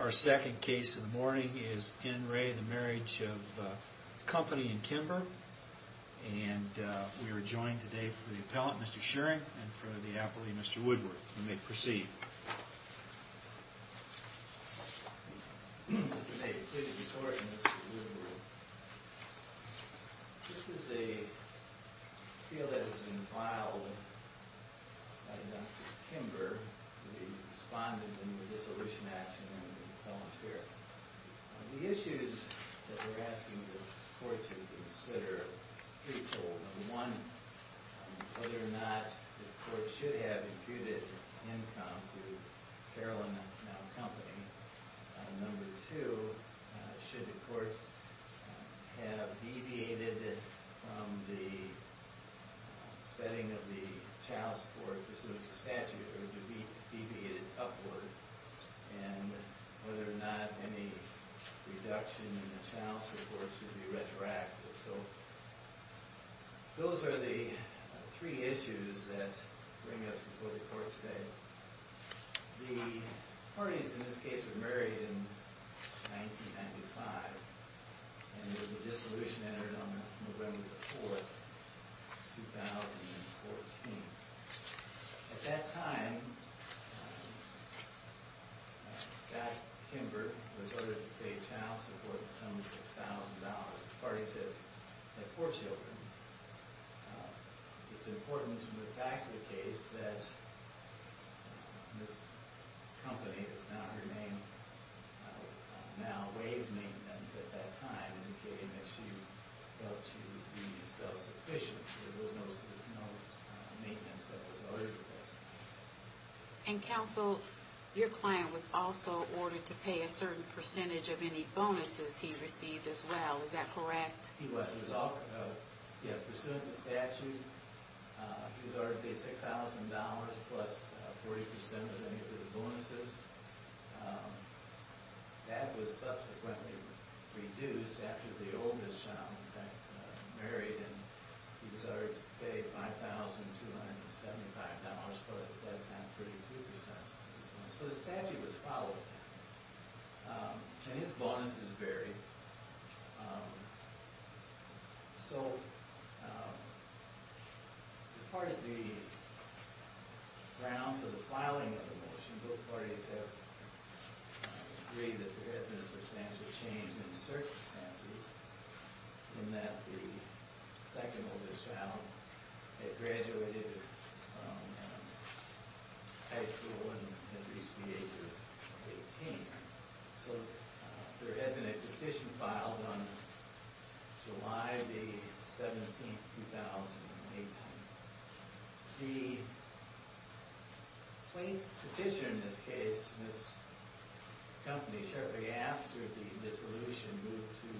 Our second case of the morning is N. Ray, the Marriage of Company in Kimber, and we are joined today for the appellant, Mr. Shearing, and for the appellee, Mr. Woodward. You may proceed. This is a field that has been filed by Dr. Kimber, the respondent in the Dissolution Act, and I'm going to volunteer. The issues that we're asking the court to consider are threefold. Number one, whether or not the court should have imputed income to Carolyn Mound Company. And number two, should the court have deviated from the setting of the child support, pursuant to statute, or deviated upward, and whether or not any reduction in the child support should be retroactive. So those are the three issues that bring us before the court today. The parties in this case were married in 1995, and there was a dissolution entered on November 4, 2014. At that time, Dr. Kimber was ordered to pay child support of some $6,000. The parties had four children. It's important to look back to the case that Ms. Company, that's now her name, now waived maintenance at that time, indicating that she felt she was being self-sufficient. There was no maintenance that was ordered against her. And, counsel, your client was also ordered to pay a certain percentage of any bonuses he received as well. Is that correct? Yes, pursuant to statute, he was ordered to pay $6,000 plus 40% of any of his bonuses. That was subsequently reduced after the old Ms. Chown, in fact, married, and he was ordered to pay $5,275 plus, at that time, 32%. So the statute was followed. And his bonuses varied. So as far as the grounds of the filing of the motion, both parties have agreed that the residence of Ms. Chown has changed in certain senses, in that the second oldest child had graduated high school and had reached the age of 18. So there had been a petition filed on July 17, 2018. The plain petition, in this case, Ms. Company, shortly after the dissolution, moved to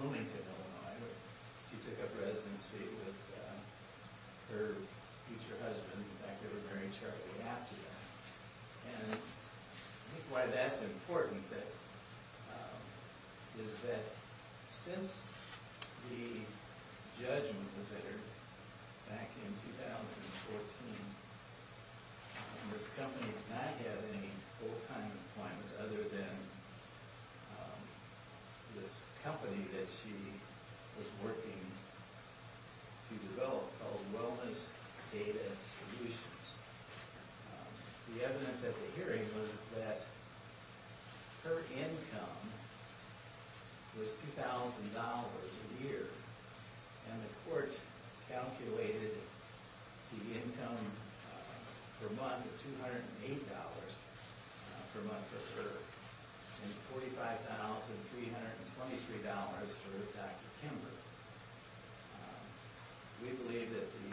Bloomington, Illinois, where she took up residency with her future husband. In fact, they were married shortly after that. And I think why that's important is that since the judgment was ordered back in 2014, Ms. Company did not have any full-time employment other than this company that she was working to develop called Wellness Data Solutions. The evidence at the hearing was that her income was $2,000 a year, and the court calculated the income per month of $208 per month for her, and $45,323 for Dr. Kimberley. We believe that the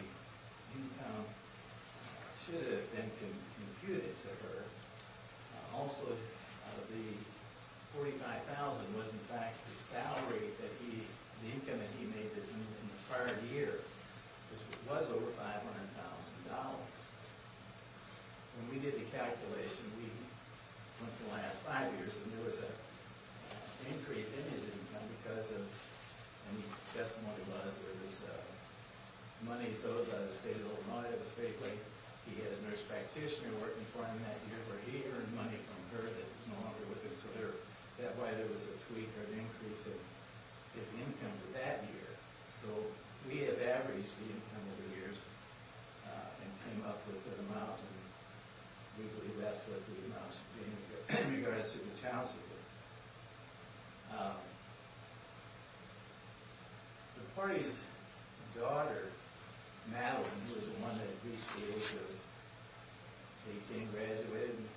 income should have been computed to her. Also, the $45,000 was, in fact, the income that he made in the prior year, which was over $500,000. When we did the calculation, we went to the last five years, and there was an increase in his income because of, and the testimony was that his money was owed by the state of Illinois. It was fake money. He had a nurse practitioner working for him that year where he earned money from her that was no longer with him. So that's why there was a tweak or an increase in his income for that year. So we have averaged the income over the years and came up with an amount, and we believe that's what the amount should be in regards to the child support. The party's daughter, Madeline, was the one that reached the age of 18, graduated, and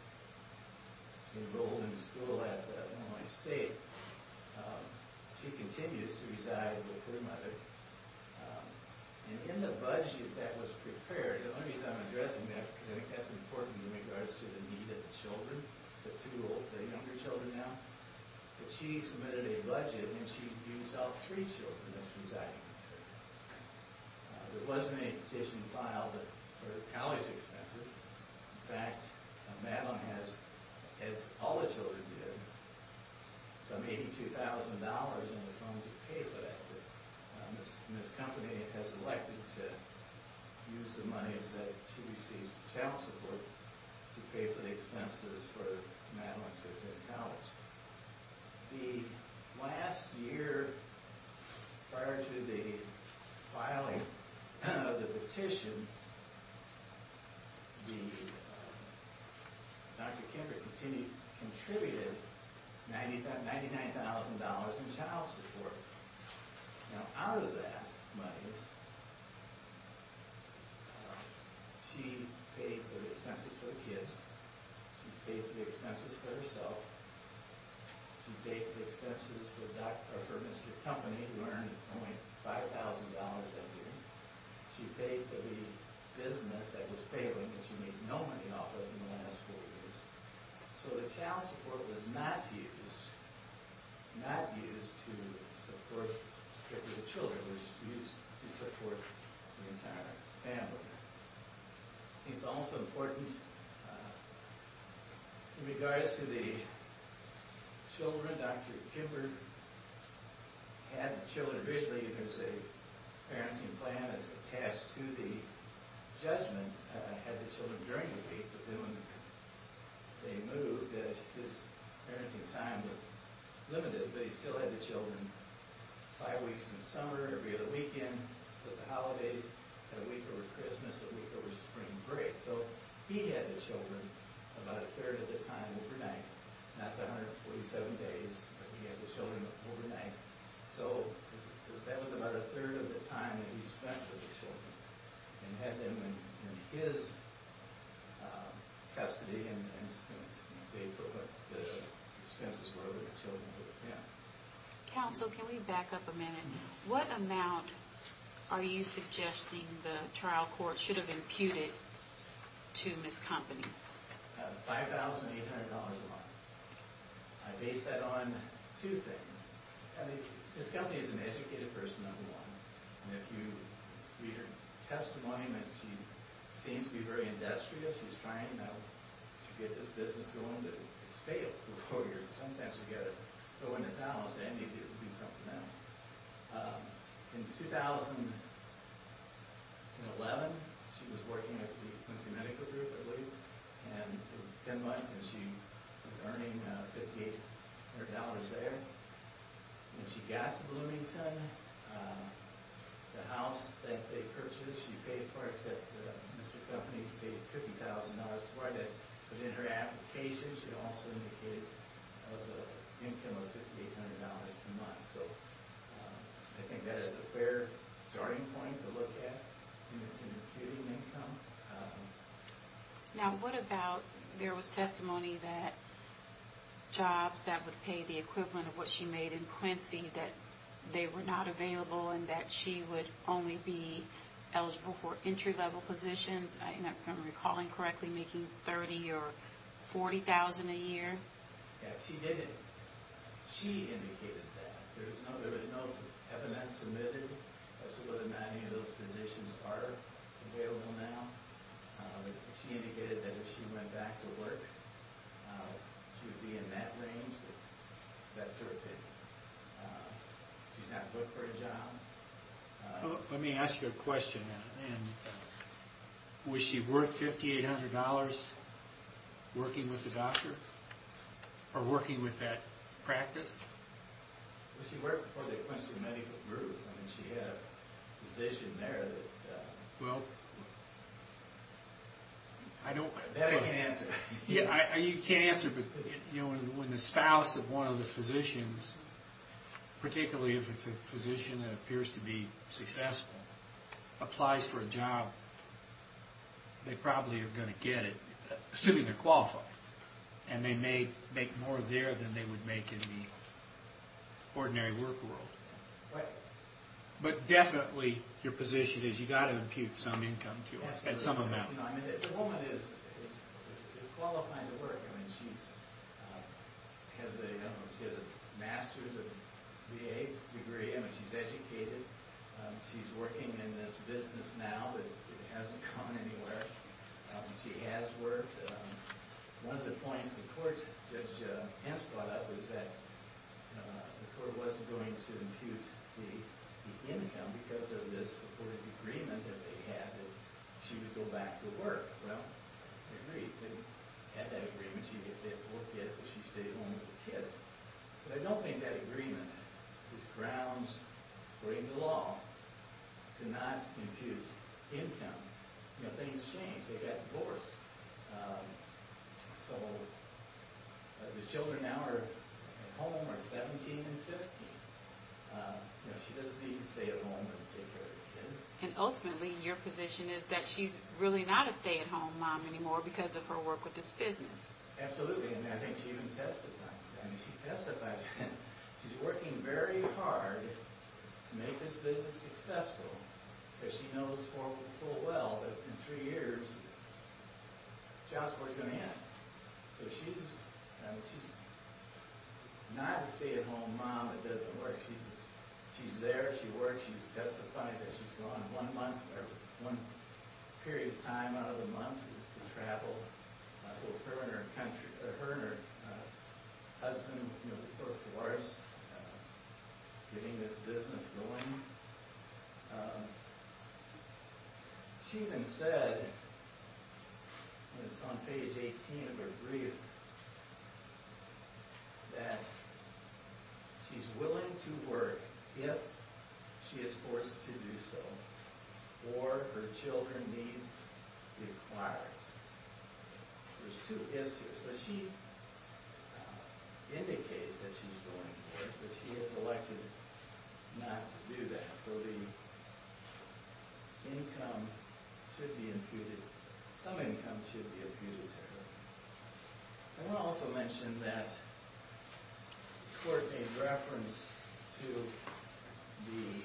enrolled in school at Illinois State. She continues to reside with her mother, and in the budget that was prepared, the only reason I'm addressing that, because I think that's important in regards to the need of the children, the two older, the younger children now, that she submitted a budget and she doesn't have three children that's residing with her. There wasn't a petition filed for college expenses. In fact, Madeline has, as all the children did, some $82,000 in the form to pay for that. Ms. Company has elected to use the money that she receives from child support to pay for the expenses for Madeline to attend college. The last year, prior to the filing of the petition, Dr. Kimber contributed $99,000 in child support. Now, out of that money, she paid for the expenses for the kids, she paid for the expenses for herself, she paid for the expenses for her Mr. Company, who earned only $5,000 that year, she paid for the business that was failing, and she made no money off of it in the last four years. So the child support was not used to support strictly the children. It was used to support the entire family. It's also important in regards to the children. Dr. Kimber had the children originally. There's a parenting plan that's attached to the judgment. He had the children during the week, but then when they moved, his parenting time was limited. But he still had the children five weeks in the summer, every other weekend, the holidays, a week over Christmas, a week over spring break. So he had the children about a third of the time overnight. Not the 147 days, but he had the children overnight. So that was about a third of the time that he spent with the children, and had them in his custody and paid for what the expenses were for the children with him. Counsel, can we back up a minute? What amount are you suggesting the trial court should have imputed to Ms. Company? $5,800 a month. I base that on two things. Ms. Company is an educated person, number one. And if you read her testimony, she seems to be very industrious. She's trying to get this business going, but it's failed for four years. Sometimes you get it going in town, I'll say, and maybe it'll be something else. In 2011, she was working at the Quincy Medical Group, I believe. Ten months, and she was earning $5,800 there. When she got to Bloomington, the house that they purchased, she paid for, except Mr. Company paid $50,000 to buy that. But in her application, she also indicated an income of $5,800 per month. So I think that is a fair starting point to look at in computing income. Now, what about there was testimony that jobs that would pay the equivalent of what she made in Quincy, that they were not available and that she would only be eligible for entry-level positions. If I'm recalling correctly, making $30,000 or $40,000 a year. Yeah, she did it. She indicated that. There was no FNS submitted as to whether or not any of those positions are available now. She indicated that if she went back to work, she would be in that range. That's her opinion. She's not booked for a job. Let me ask you a question. Was she worth $5,800 working with the doctor or working with that practice? She worked for the Quincy Medical Group. She had a position there that... Well, I don't... That I can't answer. You can't answer, but when the spouse of one of the physicians, particularly if it's a physician that appears to be successful, applies for a job, they probably are going to get it, assuming they're qualified. And they may make more there than they would make in the ordinary work world. Right. But definitely your position is you've got to impute some income to her at some amount. The woman is qualifying to work. I mean, she has a master's or BA degree. I mean, she's educated. She's working in this business now that hasn't gone anywhere. She has worked. One of the points the court, Judge Hamps brought up, was that the court wasn't going to impute the income because of this agreement that they had that she would go back to work. Well, they agreed. They had that agreement. She'd get paid $4,000 if she stayed home with the kids. But I don't think that agreement is grounds, according to law, to not impute income. You know, things change. They get divorced. So the children now at home are 17 and 15. You know, she doesn't even stay at home and take care of the kids. And ultimately, your position is that she's really not a stay-at-home mom anymore because of her work with this business. Absolutely. And I think she even testified to that. I mean, she testified to that. She's working very hard to make this business successful, because she knows full well that in three years, jobs weren't going to end. So she's not a stay-at-home mom that doesn't work. She's there. She works. She testified that she's gone one month, or one period of time out of the month, to travel with her and her husband, you know, She even said, and it's on page 18 of her brief, that she's willing to work if she is forced to do so or her children needs requires. There's two ifs here. So she indicates that she's willing to work, but she has elected not to do that. So the income should be imputed. Some income should be imputed to her. I want to also mention that the court made reference to the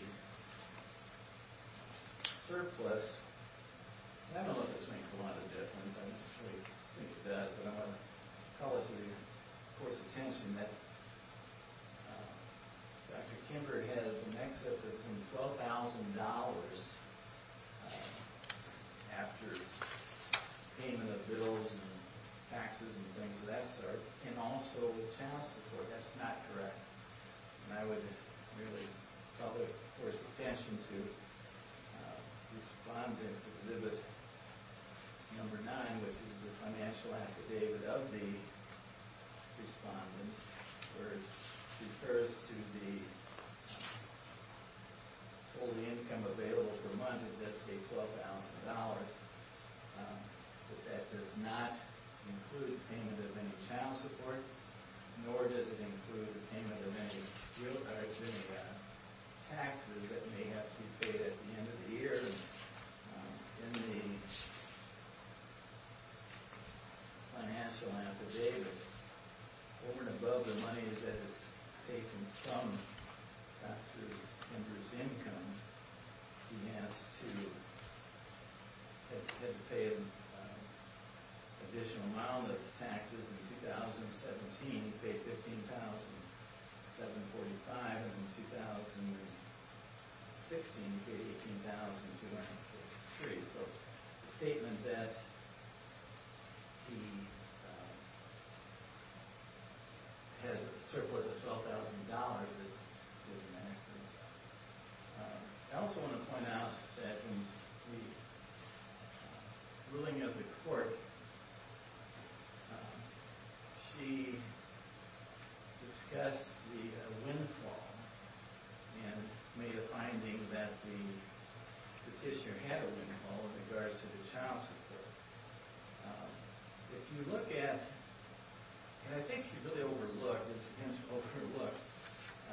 surplus. I don't know if this makes a lot of difference. I actually think it does, but I want to call it to the court's attention that Dr. Kimber has an excess of $12,000 after payment of bills and taxes and things of that sort, and also with child support. That's not correct. And I would really call the court's attention to Respondent's Exhibit No. 9, which is the financial affidavit of the Respondent, where it refers to the total income available for a month, which is, let's say, $12,000. But that does not include payment of any child support, nor does it include the payment of any bill cards or any taxes that may have to be paid at the end of the year. In the financial affidavit, over and above the money that is taken from Dr. Kimber's income, he has to pay an additional amount of taxes. In 2017, he paid $15,745. In 2016, he paid $18,243. So the statement that he has a surplus of $12,000 is inaccurate. I also want to point out that in the ruling of the court, she discussed the windfall and made a finding that the petitioner had a windfall in regards to the child support. If you look at, and I think she really overlooked,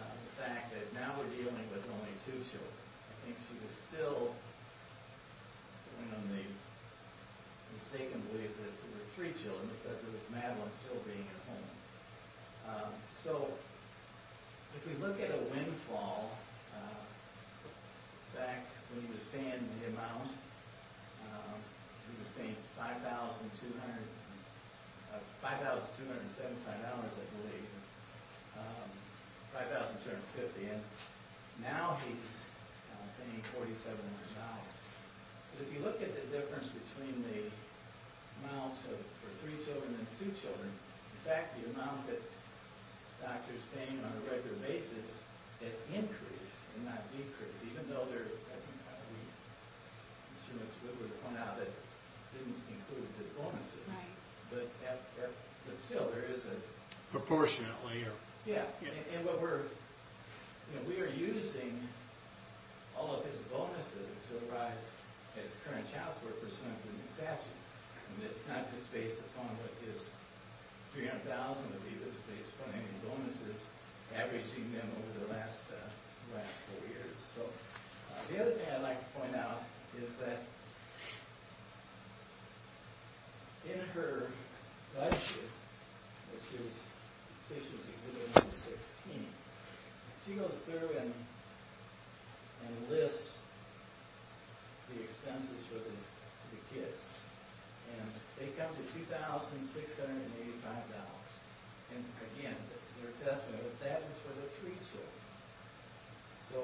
the fact that now we're dealing with only two children. I think she still mistakenly believes that there were three children because of Madeline still being at home. So if we look at a windfall, back when he was paying the amount, he was paying $5,275, I believe, $5,250, and now he's paying $4,700. If you look at the difference between the amount for three children and two children, in fact, the amount that doctors pay on a regular basis has increased and not decreased, even though, as Mr. Woodward pointed out, it didn't include the bonuses. But still, there is a proportionate layer. Yeah, and we are using all of his bonuses to provide his current child support for some of the new statutes. And it's not just based upon what his $300,000 would be. It's based upon any bonuses, averaging them over the last four years. The other thing I'd like to point out is that in her budget, which is Statutes Exhibit No. 16, she goes through and lists the expenses for the kids. And they come to $2,685. And again, their testament is that is for the three children. So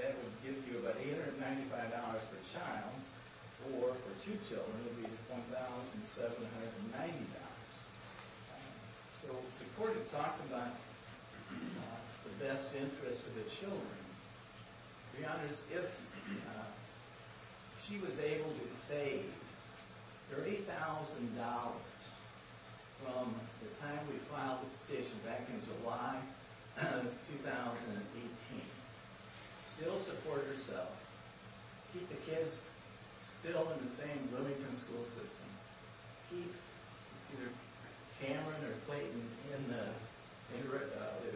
that would give you about $895 per child, or for two children, it would be $1,790. So the Court had talked about the best interests of the children. Your Honors, if she was able to save $30,000 from the time we filed the petition back in July of 2018, still support herself, keep the kids still in the same Bloomington school system, keep either Cameron or Clayton in the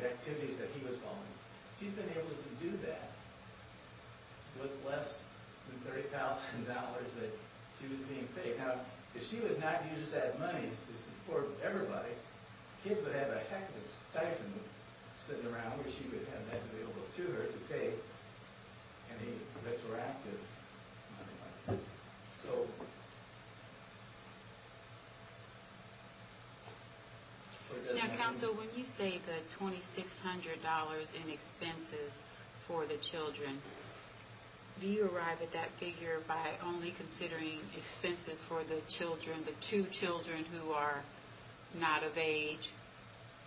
activities that he was following, she's been able to do that with less than $30,000 that she was being paid. Now, if she would not use that money to support everybody, kids would have a heck of a stipend sitting around where she would have that available to her to pay any retroactive money. So... Now, Counsel, when you say the $2,600 in expenses for the children, do you arrive at that figure by only considering expenses for the children, the two children who are not of age?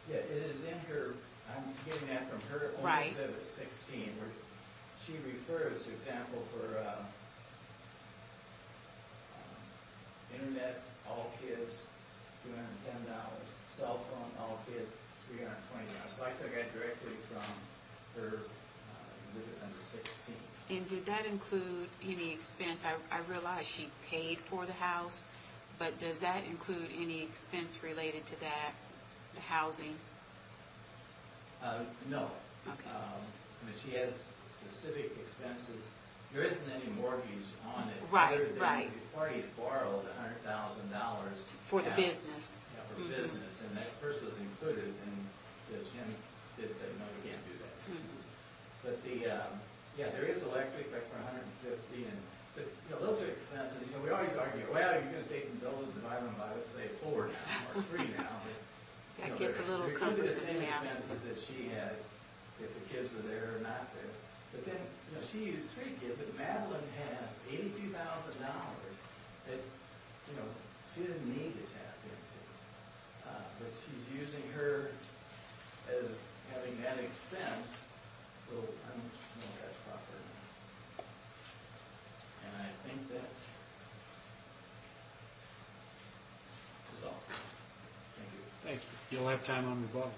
Yeah, it is in her, I'm getting that from her, the $2,600. She refers, for example, for Internet, all kids, $210. Cell phone, all kids, $320. So I took that directly from her exhibit number 16. And did that include any expense? I realize she paid for the house, but does that include any expense related to that, the housing? No. Okay. I mean, she has specific expenses. There isn't any mortgage on it. Right, right. The party's borrowed $100,000. For the business. Yeah, for business, and that first was included, and Jim said, no, you can't do that. But the, yeah, there is electric, like for $150,000. But those are expenses. We always argue, well, you're going to take those, divide them by, let's say, four. That gets a little cumbersome now. We cover the same expenses that she had, if the kids were there or not there. But then, you know, she used three kids, but Madeline has $82,000 that, you know, she didn't need this half-bent to. But she's using her as having that expense, so I don't know if that's proper. And I think that is all. Thank you. Thank you. You'll have time on rebuttal.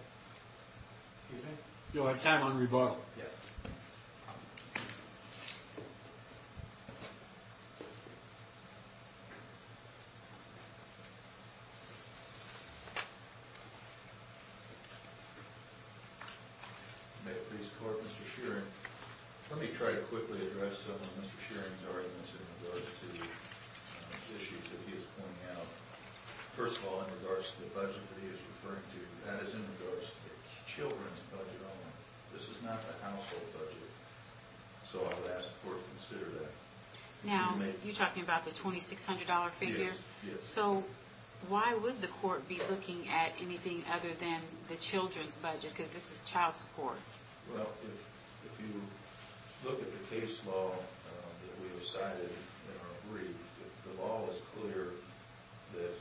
Excuse me? You'll have time on rebuttal. Yes. May it please the Court, Mr. Sheeran, let me try to quickly address some of Mr. Sheeran's arguments in regards to the issues that he is pointing out. First of all, in regards to the budget that he is referring to, that is in regards to the children's budget only. This is not a household budget. So I would ask the Court to consider that. Now, you're talking about the $2,600 figure? Yes. So why would the Court be looking at anything other than the children's budget, because this is child support? Well, if you look at the case law that we have cited in our brief, the law is clear that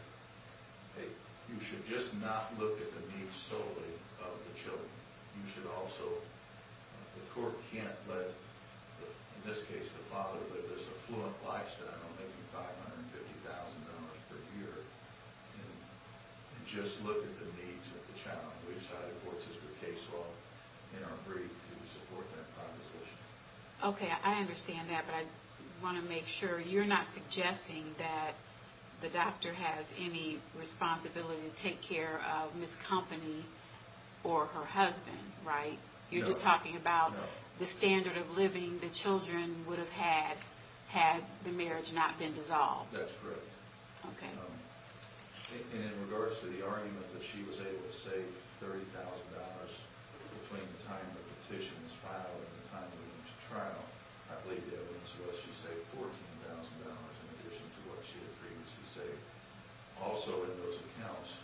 you should just not look at the needs solely of the children. You should also – the Court can't let, in this case, the father live this affluent lifestyle making $550,000 per year and just look at the needs of the child. We've cited a four-sister case law in our brief to support that proposition. Okay, I understand that, but I want to make sure you're not suggesting that the doctor has any responsibility to take care of Ms. Company or her husband, right? No. You're just talking about the standard of living the children would have had had the marriage not been dissolved. That's correct. Okay. And in regards to the argument that she was able to save $30,000 between the time the petition was filed and the time leading to trial, I believe the evidence was she saved $14,000 in addition to what she had previously saved. Also in those accounts,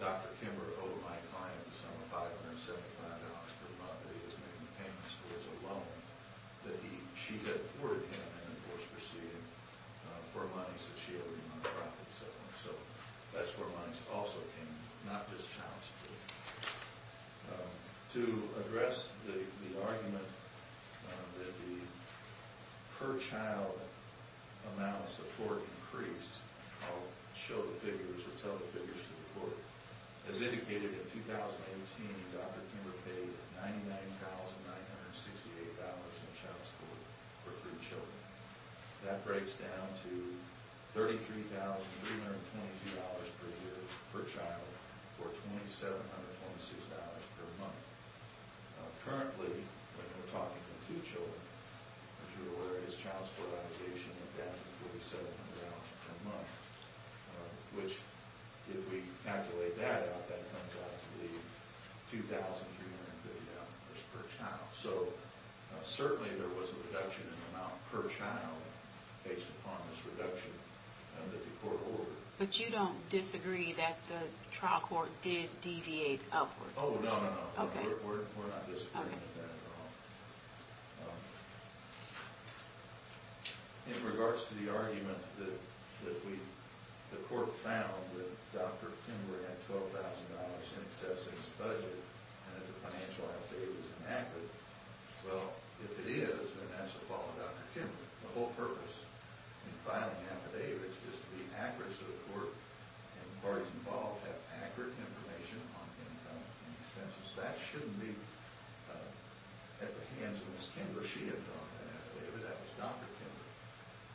Dr. Kimber owed my client the sum of $575 per month that he was making payments towards a loan that she had forwarded him for monies that she owed him on a profit settlement. So that's where monies also came in, not just child support. To address the argument that the per-child amount of support increased, I'll show the figures or tell the figures to the court. As indicated, in 2018, Dr. Kimber paid $99,968 in child support for three children. That breaks down to $33,322 per year per child, or $2,746 per month. Currently, when we're talking to two children, what you're aware of is child support allocation of that $2,746 per month, which, if we calculate that out, that comes out to be $2,350 per child. So certainly there was a reduction in the amount per child based upon this reduction that the court ordered. But you don't disagree that the trial court did deviate upward? Oh, no, no, no. We're not disagreeing with that at all. In regards to the argument that the court found that Dr. Kimber had $12,000 in excess of his budget and that the financial affidavit is inaccurate, well, if it is, then that's the fault of Dr. Kimber. The whole purpose in filing an affidavit is to be accurate so the court and the parties involved have accurate information on income and expenses. That shouldn't be at the hands of Ms. Kimber. She had drawn that affidavit. That was Dr. Kimber.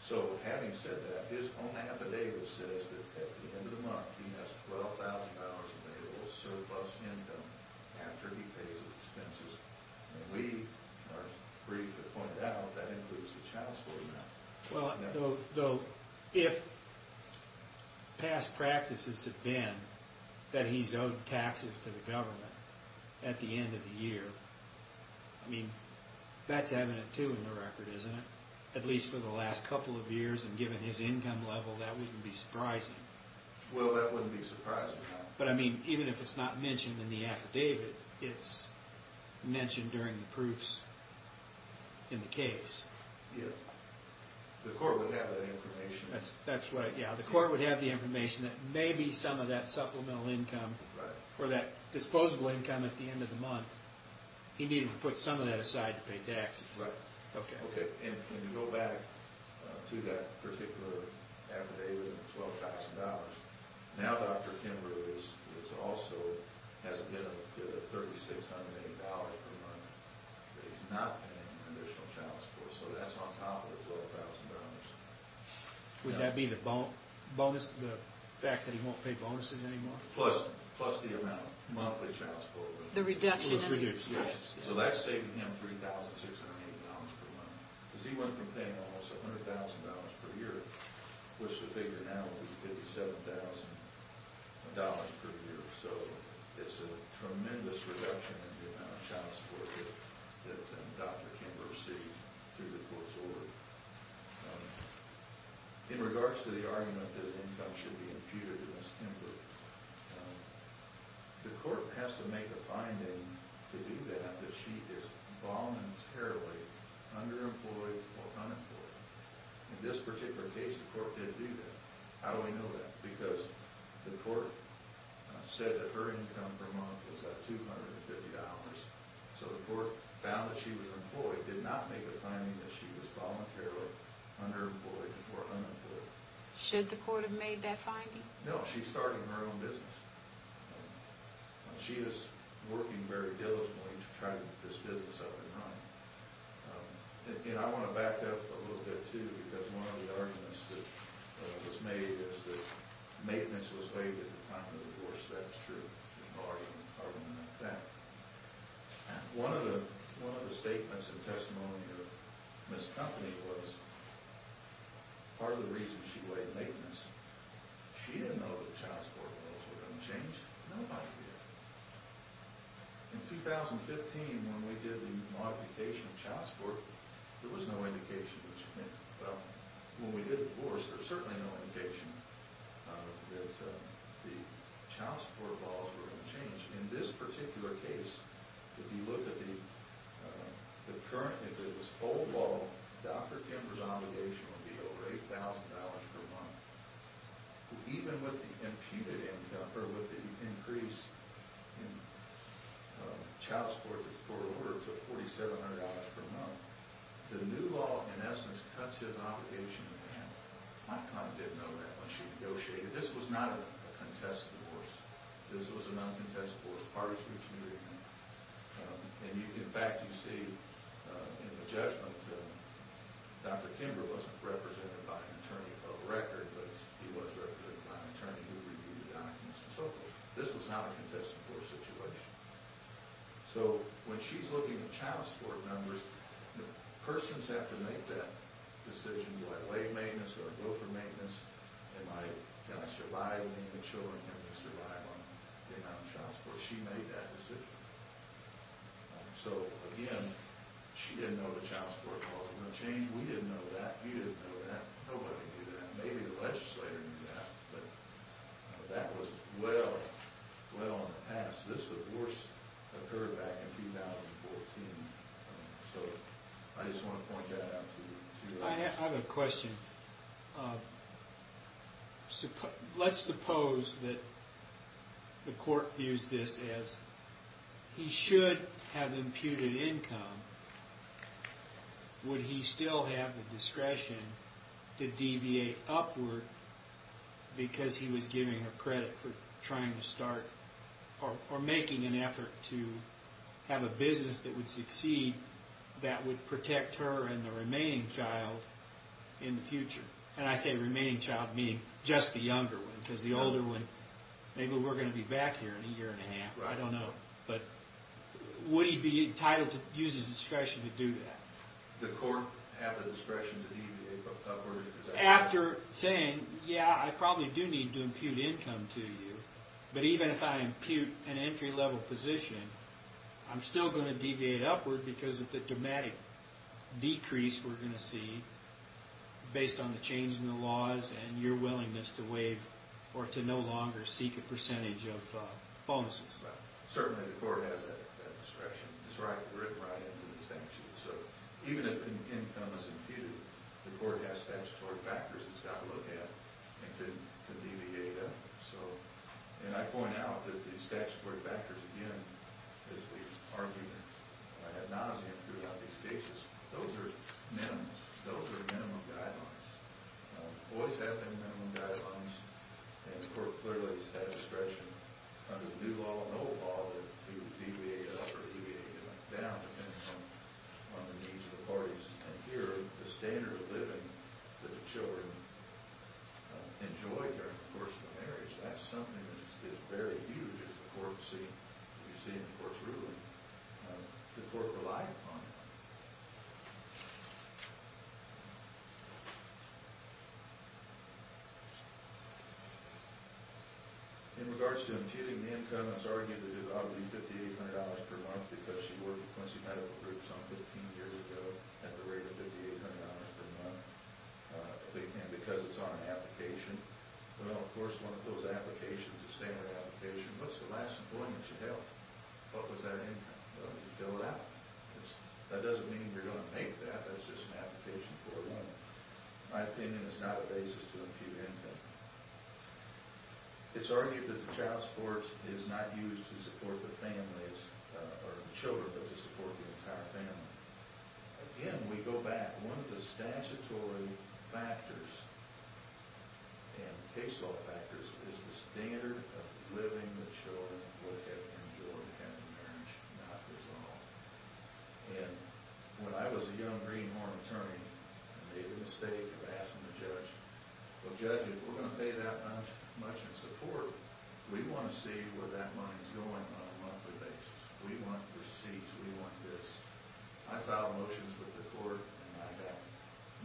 So having said that, his own affidavit says that at the end of the month he has $12,000 available surplus income after he pays his expenses. And we are free to point out that includes the child support amount. Though if past practices have been that he's owed taxes to the government at the end of the year, I mean, that's evident too in the record, isn't it? At least for the last couple of years and given his income level, that wouldn't be surprising. Well, that wouldn't be surprising. But I mean, even if it's not mentioned in the affidavit, it's mentioned during the proofs in the case. Yeah. The court would have that information. That's right, yeah. The court would have the information that maybe some of that supplemental income or that disposable income at the end of the month, he needed to put some of that aside to pay taxes. Right. Okay. Okay. And can you go back to that particular affidavit of $12,000? Now Dr. Kimbrough also has to get a $3,600 per month that he's not paying additional child support. So that's on top of the $12,000. Would that be the bonus, the fact that he won't pay bonuses anymore? Plus the amount, monthly child support. The reduction in the expenses. So that's saving him $3,600 per month. Because he went from paying almost $100,000 per year, which the figure now is $57,000 per year. So it's a tremendous reduction in the amount of child support that Dr. Kimbrough received through the court's order. In regards to the argument that income should be imputed against Kimbrough, the court has to make a finding to do that that she is voluntarily underemployed or unemployed. In this particular case, the court did do that. How do we know that? Because the court said that her income per month was at $250. So the court found that she was employed, did not make a finding that she was voluntarily underemployed or unemployed. Should the court have made that finding? No, she's starting her own business. She is working very diligently to try to get this business up and running. And I want to back up a little bit, too, because one of the arguments that was made is that maintenance was waived at the time of the divorce. That's true. There's no argument in that fact. One of the statements and testimony of Ms. Company was part of the reason she waived maintenance. She didn't know that child support bills were going to change. No one did. In 2015, when we did the modification of child support, there was no indication. Well, when we did divorce, there was certainly no indication that the child support bills were going to change. In this particular case, if you look at the current, if it was old law, Dr. Kimber's obligation would be over $8,000 per month. Even with the increase in child support, the court ordered it to $4,700 per month. The new law, in essence, cuts his obligation in half. My client didn't know that when she negotiated. This was not a contested divorce. This was a non-contested divorce. The parties reached an agreement. In fact, you see in the judgment, Dr. Kimber wasn't represented by an attorney of record, but he was represented by an attorney who reviewed the documents and so forth. This was not a contested divorce situation. When she's looking at child support numbers, persons have to make that decision. Do I waive maintenance? Do I go for maintenance? Can I survive? Can the children survive on the amount of child support? She made that decision. Again, she didn't know the child support clause was going to change. We didn't know that. He didn't know that. Nobody knew that. Maybe the legislator knew that, but that was well, well in the past. This divorce occurred back in 2014. I just want to point that out to you. I have a question. Let's suppose that the court views this as he should have imputed income. Would he still have the discretion to deviate upward because he was giving her credit for trying to start or making an effort to have a business that would succeed that would protect her and the remaining child in the future? And I say remaining child, meaning just the younger one because the older one, maybe we're going to be back here in a year and a half. I don't know. But would he be entitled to use his discretion to do that? Would the court have the discretion to deviate upward? After saying, yeah, I probably do need to impute income to you, but even if I impute an entry level position, I'm still going to deviate upward because of the dramatic decrease we're going to see based on the change in the laws and your willingness to waive or to no longer seek a percentage of bonuses. Certainly the court has that discretion. It's written right into the sanctions. So even if income is imputed, the court has statutory factors it's got to look at and can deviate up. And I point out that the statutory factors, again, as we've argued ad nauseum throughout these cases, those are minimums. Those are minimum guidelines. Boys have minimum guidelines, and the court clearly has that discretion under the new law and old law to deviate up or deviate down depending on the needs of the parties. And here, the standard of living that the children enjoy during the course of the marriage, that's something that is very huge as the court sees it. You see it, of course, really. The court relied upon it. In regards to imputing the income, it's argued that it would be $5,800 per month because she worked with Quincy Medical Group some 15 years ago at the rate of $5,800 per month, and because it's on an application. Well, of course, one of those applications, a standard application, what's the last employment you held? What was that income? Did you fill it out? That doesn't mean you're going to make that. That's just an application for one. My opinion is not a basis to impute income. It's argued that the child support is not used to support the families or the children, but to support the entire family. Again, we go back. One of the statutory factors and case law factors is the standard of living the children would have enjoyed had the marriage not resolved. And when I was a young Greenhorn attorney, I made the mistake of asking the judge, well, judge, if we're going to pay that much in support, we want to see where that money's going on a monthly basis. We want receipts. We want this. I filed motions with the court, and I got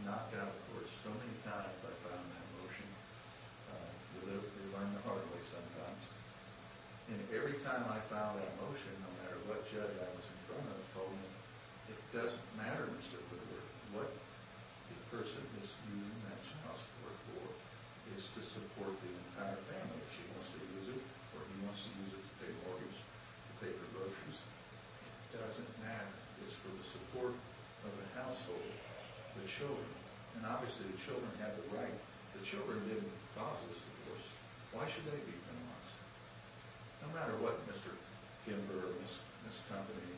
knocked out for so many times by filing that motion. They learned the hard way sometimes. And every time I filed that motion, no matter what judge I was in front of, told me it doesn't matter, Mr. Whittaker, what the person is using that child support for is to support the entire family. If she wants to use it or he wants to use it to pay mortgage, to pay for groceries, it doesn't matter. It's for the support of the household, the children. And obviously the children have the right. The children didn't cause this divorce. Why should they be penalized? No matter what Mr. Kimber, this company,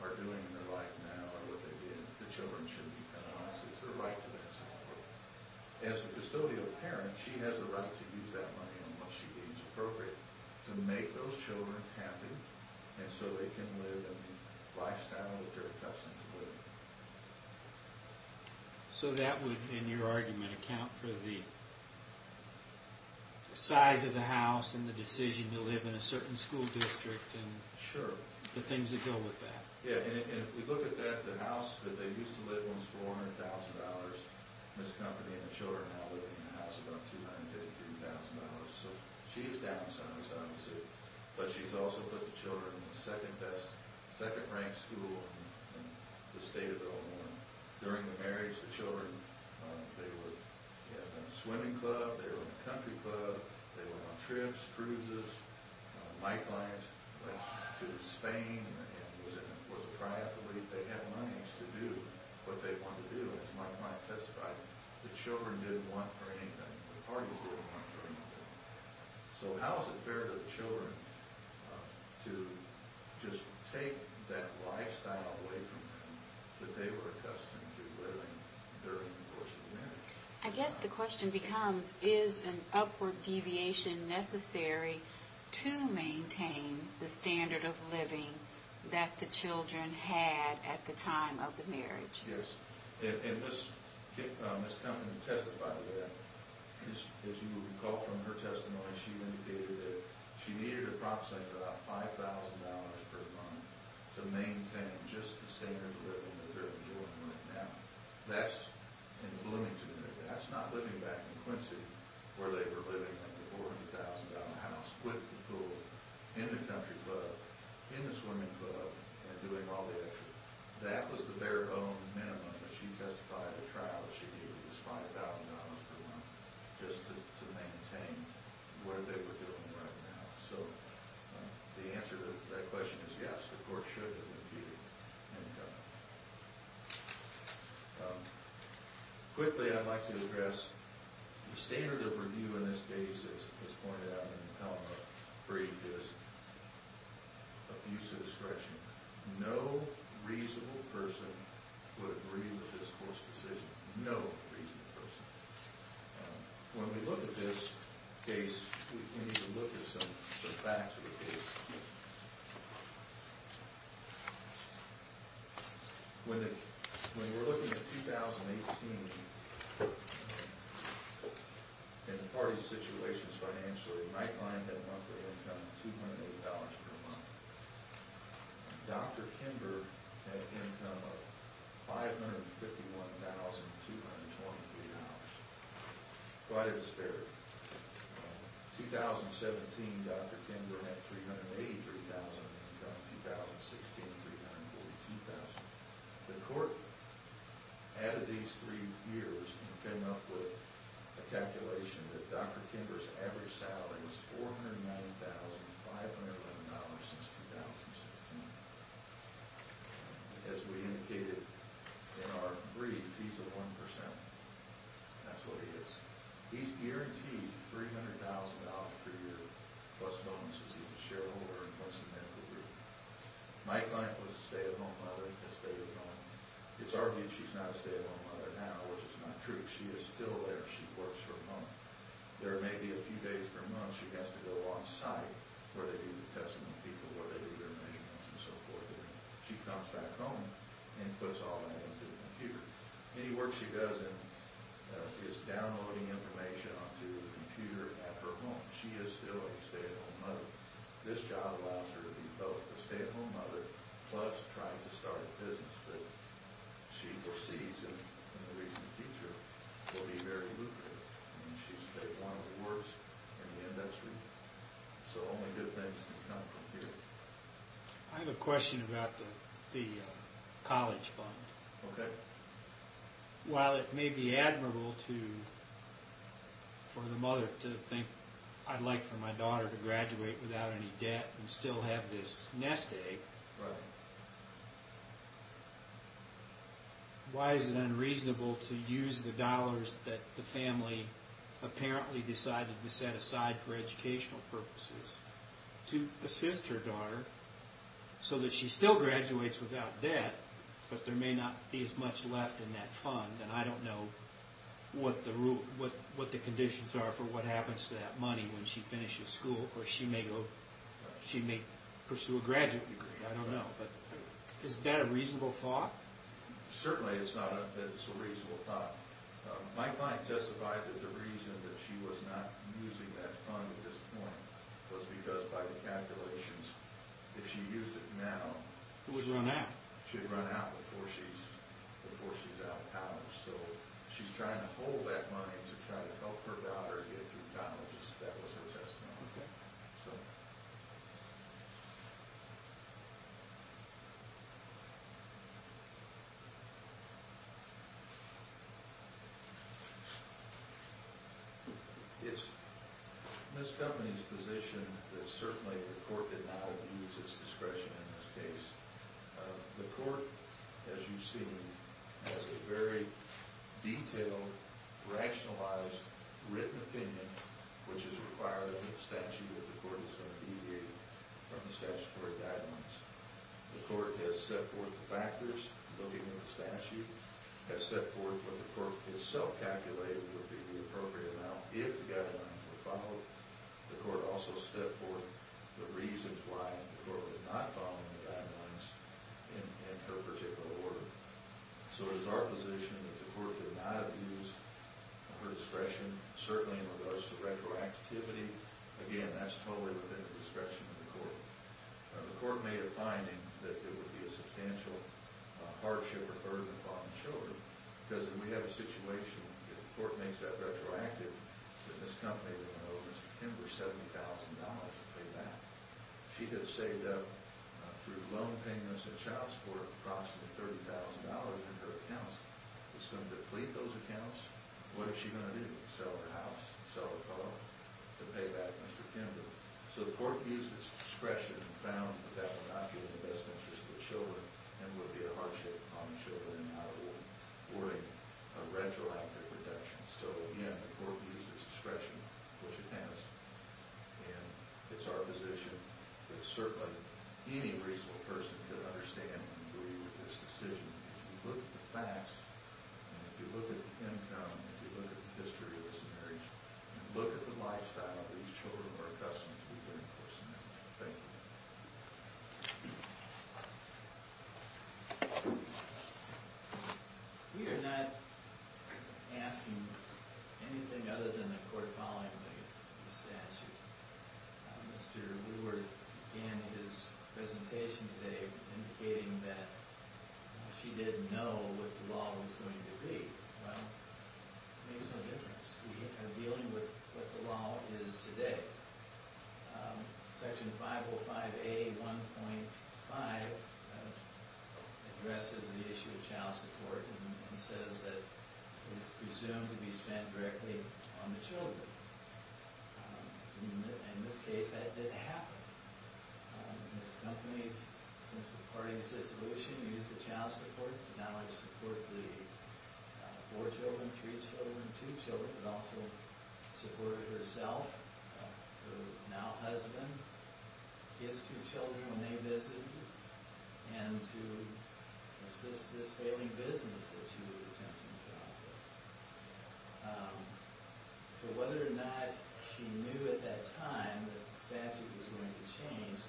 are doing in their life now or what they did, the children shouldn't be penalized. It's their right to that support. As a custodial parent, she has the right to use that money in what she deems appropriate to make those children happy and so they can live a lifestyle that they're accustomed to living. So that would, in your argument, account for the size of the house and the decision to live in a certain school district and the things that go with that. Yeah, and if we look at that, the house that they used to live in was $400,000. This company and the children now live in the house about $253,000. So she is down some, it's obviously. But she's also put the children in the second best, second-ranked school in the state of Illinois. During the marriage, the children, they were in a swimming club, they were in a country club, they were on trips, cruises. My client went to Spain and was a triathlete. They had monies to do what they wanted to do. As my client testified, the children didn't want for anything. The parties didn't want for anything. So how is it fair to the children to just take that lifestyle away from them that they were accustomed to living during the course of the marriage? I guess the question becomes, is an upward deviation necessary to maintain the standard of living that the children had at the time of the marriage? Yes. And Ms. Compton testified to that. As you will recall from her testimony, she indicated that she needed approximately about $5,000 per month to maintain just the standard of living that they're enjoying right now. That's in Bloomington. That's not living back in Quincy where they were living with the $400,000 house, with the pool, in the country club, in the swimming club, and doing all the extra. That was their own minimum, as she testified at a trial that she needed was $5,000 per month just to maintain what they were doing right now. So the answer to that question is yes, the court should have imputed income. Quickly, I'd like to address the standard of review in this case as pointed out in the Pelham brief is abuse of discretion. No reasonable person would agree with this court's decision. No reasonable person. When we look at this case, we need to look at some of the facts of the case. When we're looking at 2018, in the parties' situations financially, Knightline had a monthly income of $280 per month. Dr. Kinberg had an income of $551,223. Quite a disparity. In 2017, Dr. Kinberg had $383,000 in income. In 2016, $342,000. The court added these three years and came up with a calculation that Dr. Kinberg's average salary was $409,511 since 2016. As we indicated in our brief, he's at 1%. That's what he is. He's guaranteed $300,000 per year, plus bonuses he can share with his medical group. Knightline was a stay-at-home mother. It's argued she's not a stay-at-home mother now, which is not true. She is still there. She works from home. There may be a few days per month she has to go on-site where they do the testing of people, where they do their measurements, and so forth. Then she comes back home and puts all that into the computer. Any work she does is downloading information onto the computer at her home. She is still a stay-at-home mother. This job allows her to be both a stay-at-home mother plus trying to start a business that she proceeds in the recent future will be very lucrative. She's one of the worst in the industry, so only good things can come from here. I have a question about the college fund. Okay. While it may be admirable for the mother to think, I'd like for my daughter to graduate without any debt and still have this nest egg, why is it unreasonable to use the dollars that the family apparently decided to set aside for educational purposes to assist her daughter so that she still graduates without debt, but there may not be as much left in that fund, and I don't know what the conditions are for what happens to that money when she finishes school, or she may pursue a graduate degree. I don't know. Is that a reasonable thought? Certainly it's not that it's a reasonable thought. My client testified that the reason that she was not using that fund at this point was because by the calculations, if she used it now... It would run out. She'd run out before she's out of college, so she's trying to hold that money to try to help her daughter get through college. That was her testimony. It's Ms. Company's position that certainly the court did not use its discretion in this case The court, as you've seen, has a very detailed, rationalized, written opinion which is required under the statute that the court is going to mediate from the statutory guidelines. The court has set forth the factors looking at the statute, has set forth what the court itself calculated would be the appropriate amount if the guideline were followed. The court also set forth the reasons why the court was not following the guidelines in her particular order. So it is our position that the court did not use her discretion, certainly in regards to retroactivity. Again, that's totally within the discretion of the court. The court made a finding that there would be a substantial hardship incurred upon the children. Because if we have a situation where the court makes that retroactive, then Ms. Company would owe Mr. Kimber $70,000 to pay back. She had saved up, through loan payments and child support, approximately $30,000 in her accounts. It's going to deplete those accounts. What is she going to do? Sell her house? Sell her car? To pay back Mr. Kimber? So the court used its discretion and found that that would not be in the best interest of the children and would be a hardship upon the children and not awarding a retroactive reduction. So again, the court used its discretion, which it has. And it's our position that certainly any reasonable person could understand and agree with this decision. If you look at the facts, and if you look at the income, if you look at the history of this marriage, and look at the lifestyle of these children who are accustomed to be living for some time. Thank you. We are not asking anything other than the court following the statute. Mr. Leward began his presentation today indicating that she didn't know what the law was going to be. Well, it makes no difference. We are dealing with what the law is today. Section 505A.1.5 addresses the issue of child support and says that it is presumed to be spent directly on the children. In this case, that didn't happen. Ms. Kompany, since the party's dissolution, used the child support to not only support the four children, three children, two children, but also supported herself, her now husband, his two children when they visited her, and to assist this failing business that she was attempting to operate. So whether or not she knew at that time that the statute was going to change,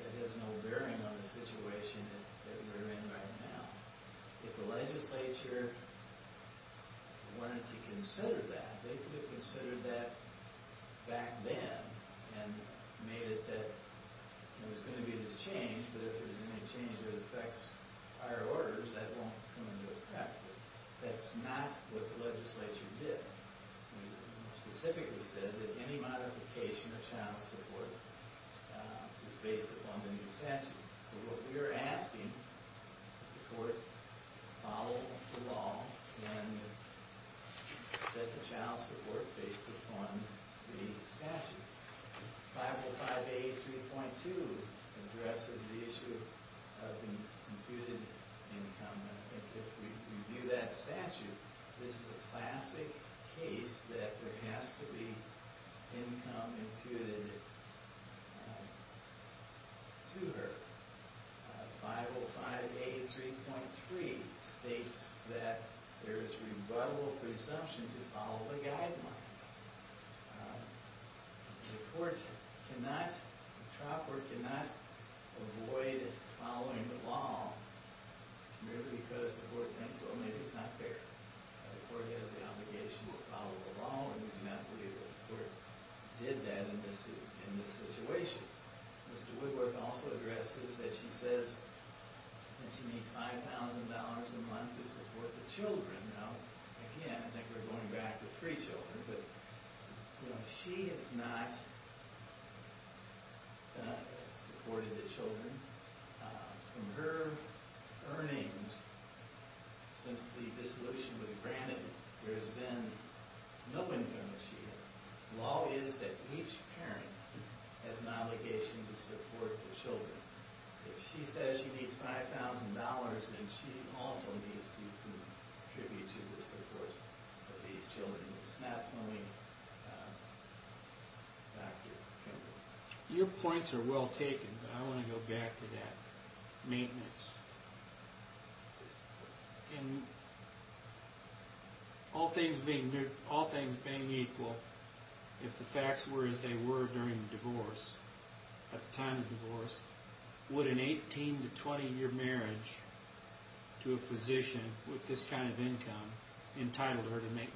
that has no bearing on the situation that we're in right now. If the legislature wanted to consider that, they could have considered that back then and made it that there was going to be this change, but if there's any change that affects higher orders, that won't come into effect. That's not what the legislature did. It specifically said that any modification of child support is based upon the new statute. So what we are asking the court to follow the law and set the child support based upon the statute. 505A.3.2 addresses the issue of the computed income. If we review that statute, this is a classic case that there has to be income imputed to her. 505A.3.3 states that there is rebuttable presumption to follow the guidelines. The court cannot, the tropper cannot avoid following the law merely because the court thinks, well, maybe it's not fair. The court has the obligation to follow the law and we cannot believe that the court did that in this situation. Mr. Woodworth also addresses that she says that she needs $5,000 a month to support the children. Now, again, I think we're going back to free children, but she has not supported the children from her earnings since the dissolution was granted. There has been no income that she has. The law is that each parent has an obligation to support the children. If she says she needs $5,000, then she also needs to contribute to the support of these children. It's not funny. Dr. Kimball. Your points are well taken, but I want to go back to that. Maintenance. All things being equal, if the facts were as they were during the divorce, at the time of the divorce, would an 18- to 20-year marriage to a physician with this kind of income entitle her to maintenance?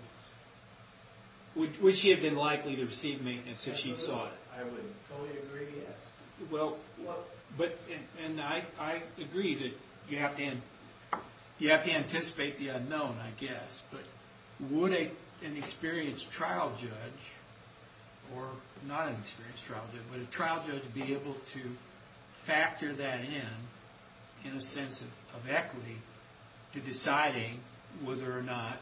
Would she have been likely to receive maintenance if she sought it? I would fully agree, yes. I agree that you have to anticipate the unknown, I guess. But would an experienced trial judge or not an experienced trial judge, but a trial judge be able to factor that in in a sense of equity to deciding whether or not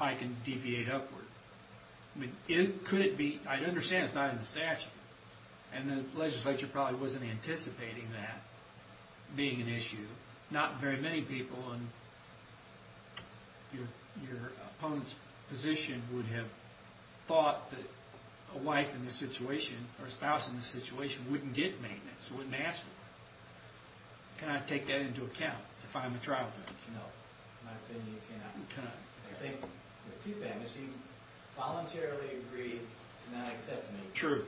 I can deviate upward? Could it be? I understand it's not in the statute, and the legislature probably wasn't anticipating that being an issue. Not very many people in your opponent's position would have thought that a wife in this situation, or a spouse in this situation, wouldn't get maintenance, wouldn't ask for it. Can I take that into account if I'm a trial judge? No, in my opinion, you cannot. You cannot. I think, with two families, she voluntarily agreed to not accept maintenance. True.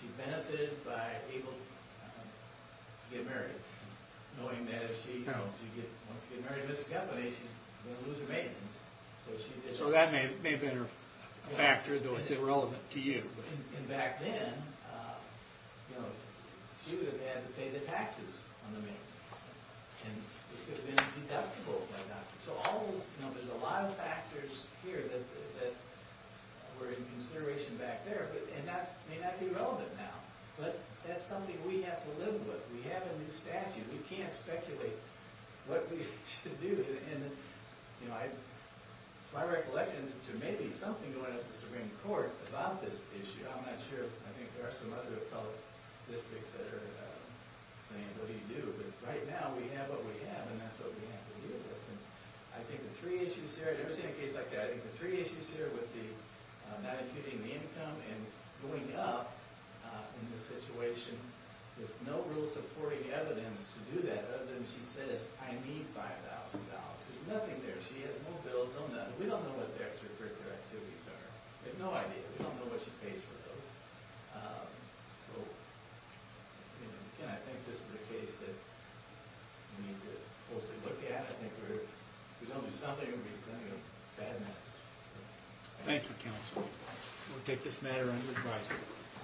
She benefited by being able to get married. Knowing that if she wants to get married and miscarries, she's going to lose her maintenance. So that may have been her factor, though it's irrelevant to you. And back then, she would have had to pay the taxes on the maintenance. And it could have been deductible by doctors. So there's a lot of factors here that were in consideration back there, and that may not be relevant now. But that's something we have to live with. We have a new statute. We can't speculate what we should do. And it's my recollection that there may be something going up in the Supreme Court about this issue. I'm not sure. I think there are some other appellate districts that are saying, what do you do? But right now, we have what we have, and that's what we have to deal with. I think the three issues here, I've never seen a case like that. I think the three issues here would be not including the income and going up in the situation with no rule-supporting evidence to do that, other than she says, I need $5,000. There's nothing there. She has no bills, no nothing. We don't know what the extra-curricular activities are. We have no idea. We don't know what she pays for those. So, again, I think this is a case that we need to closely look at. I think if we don't do something, we'll be sending a bad message. Thank you, counsel. We'll take this matter under advisory.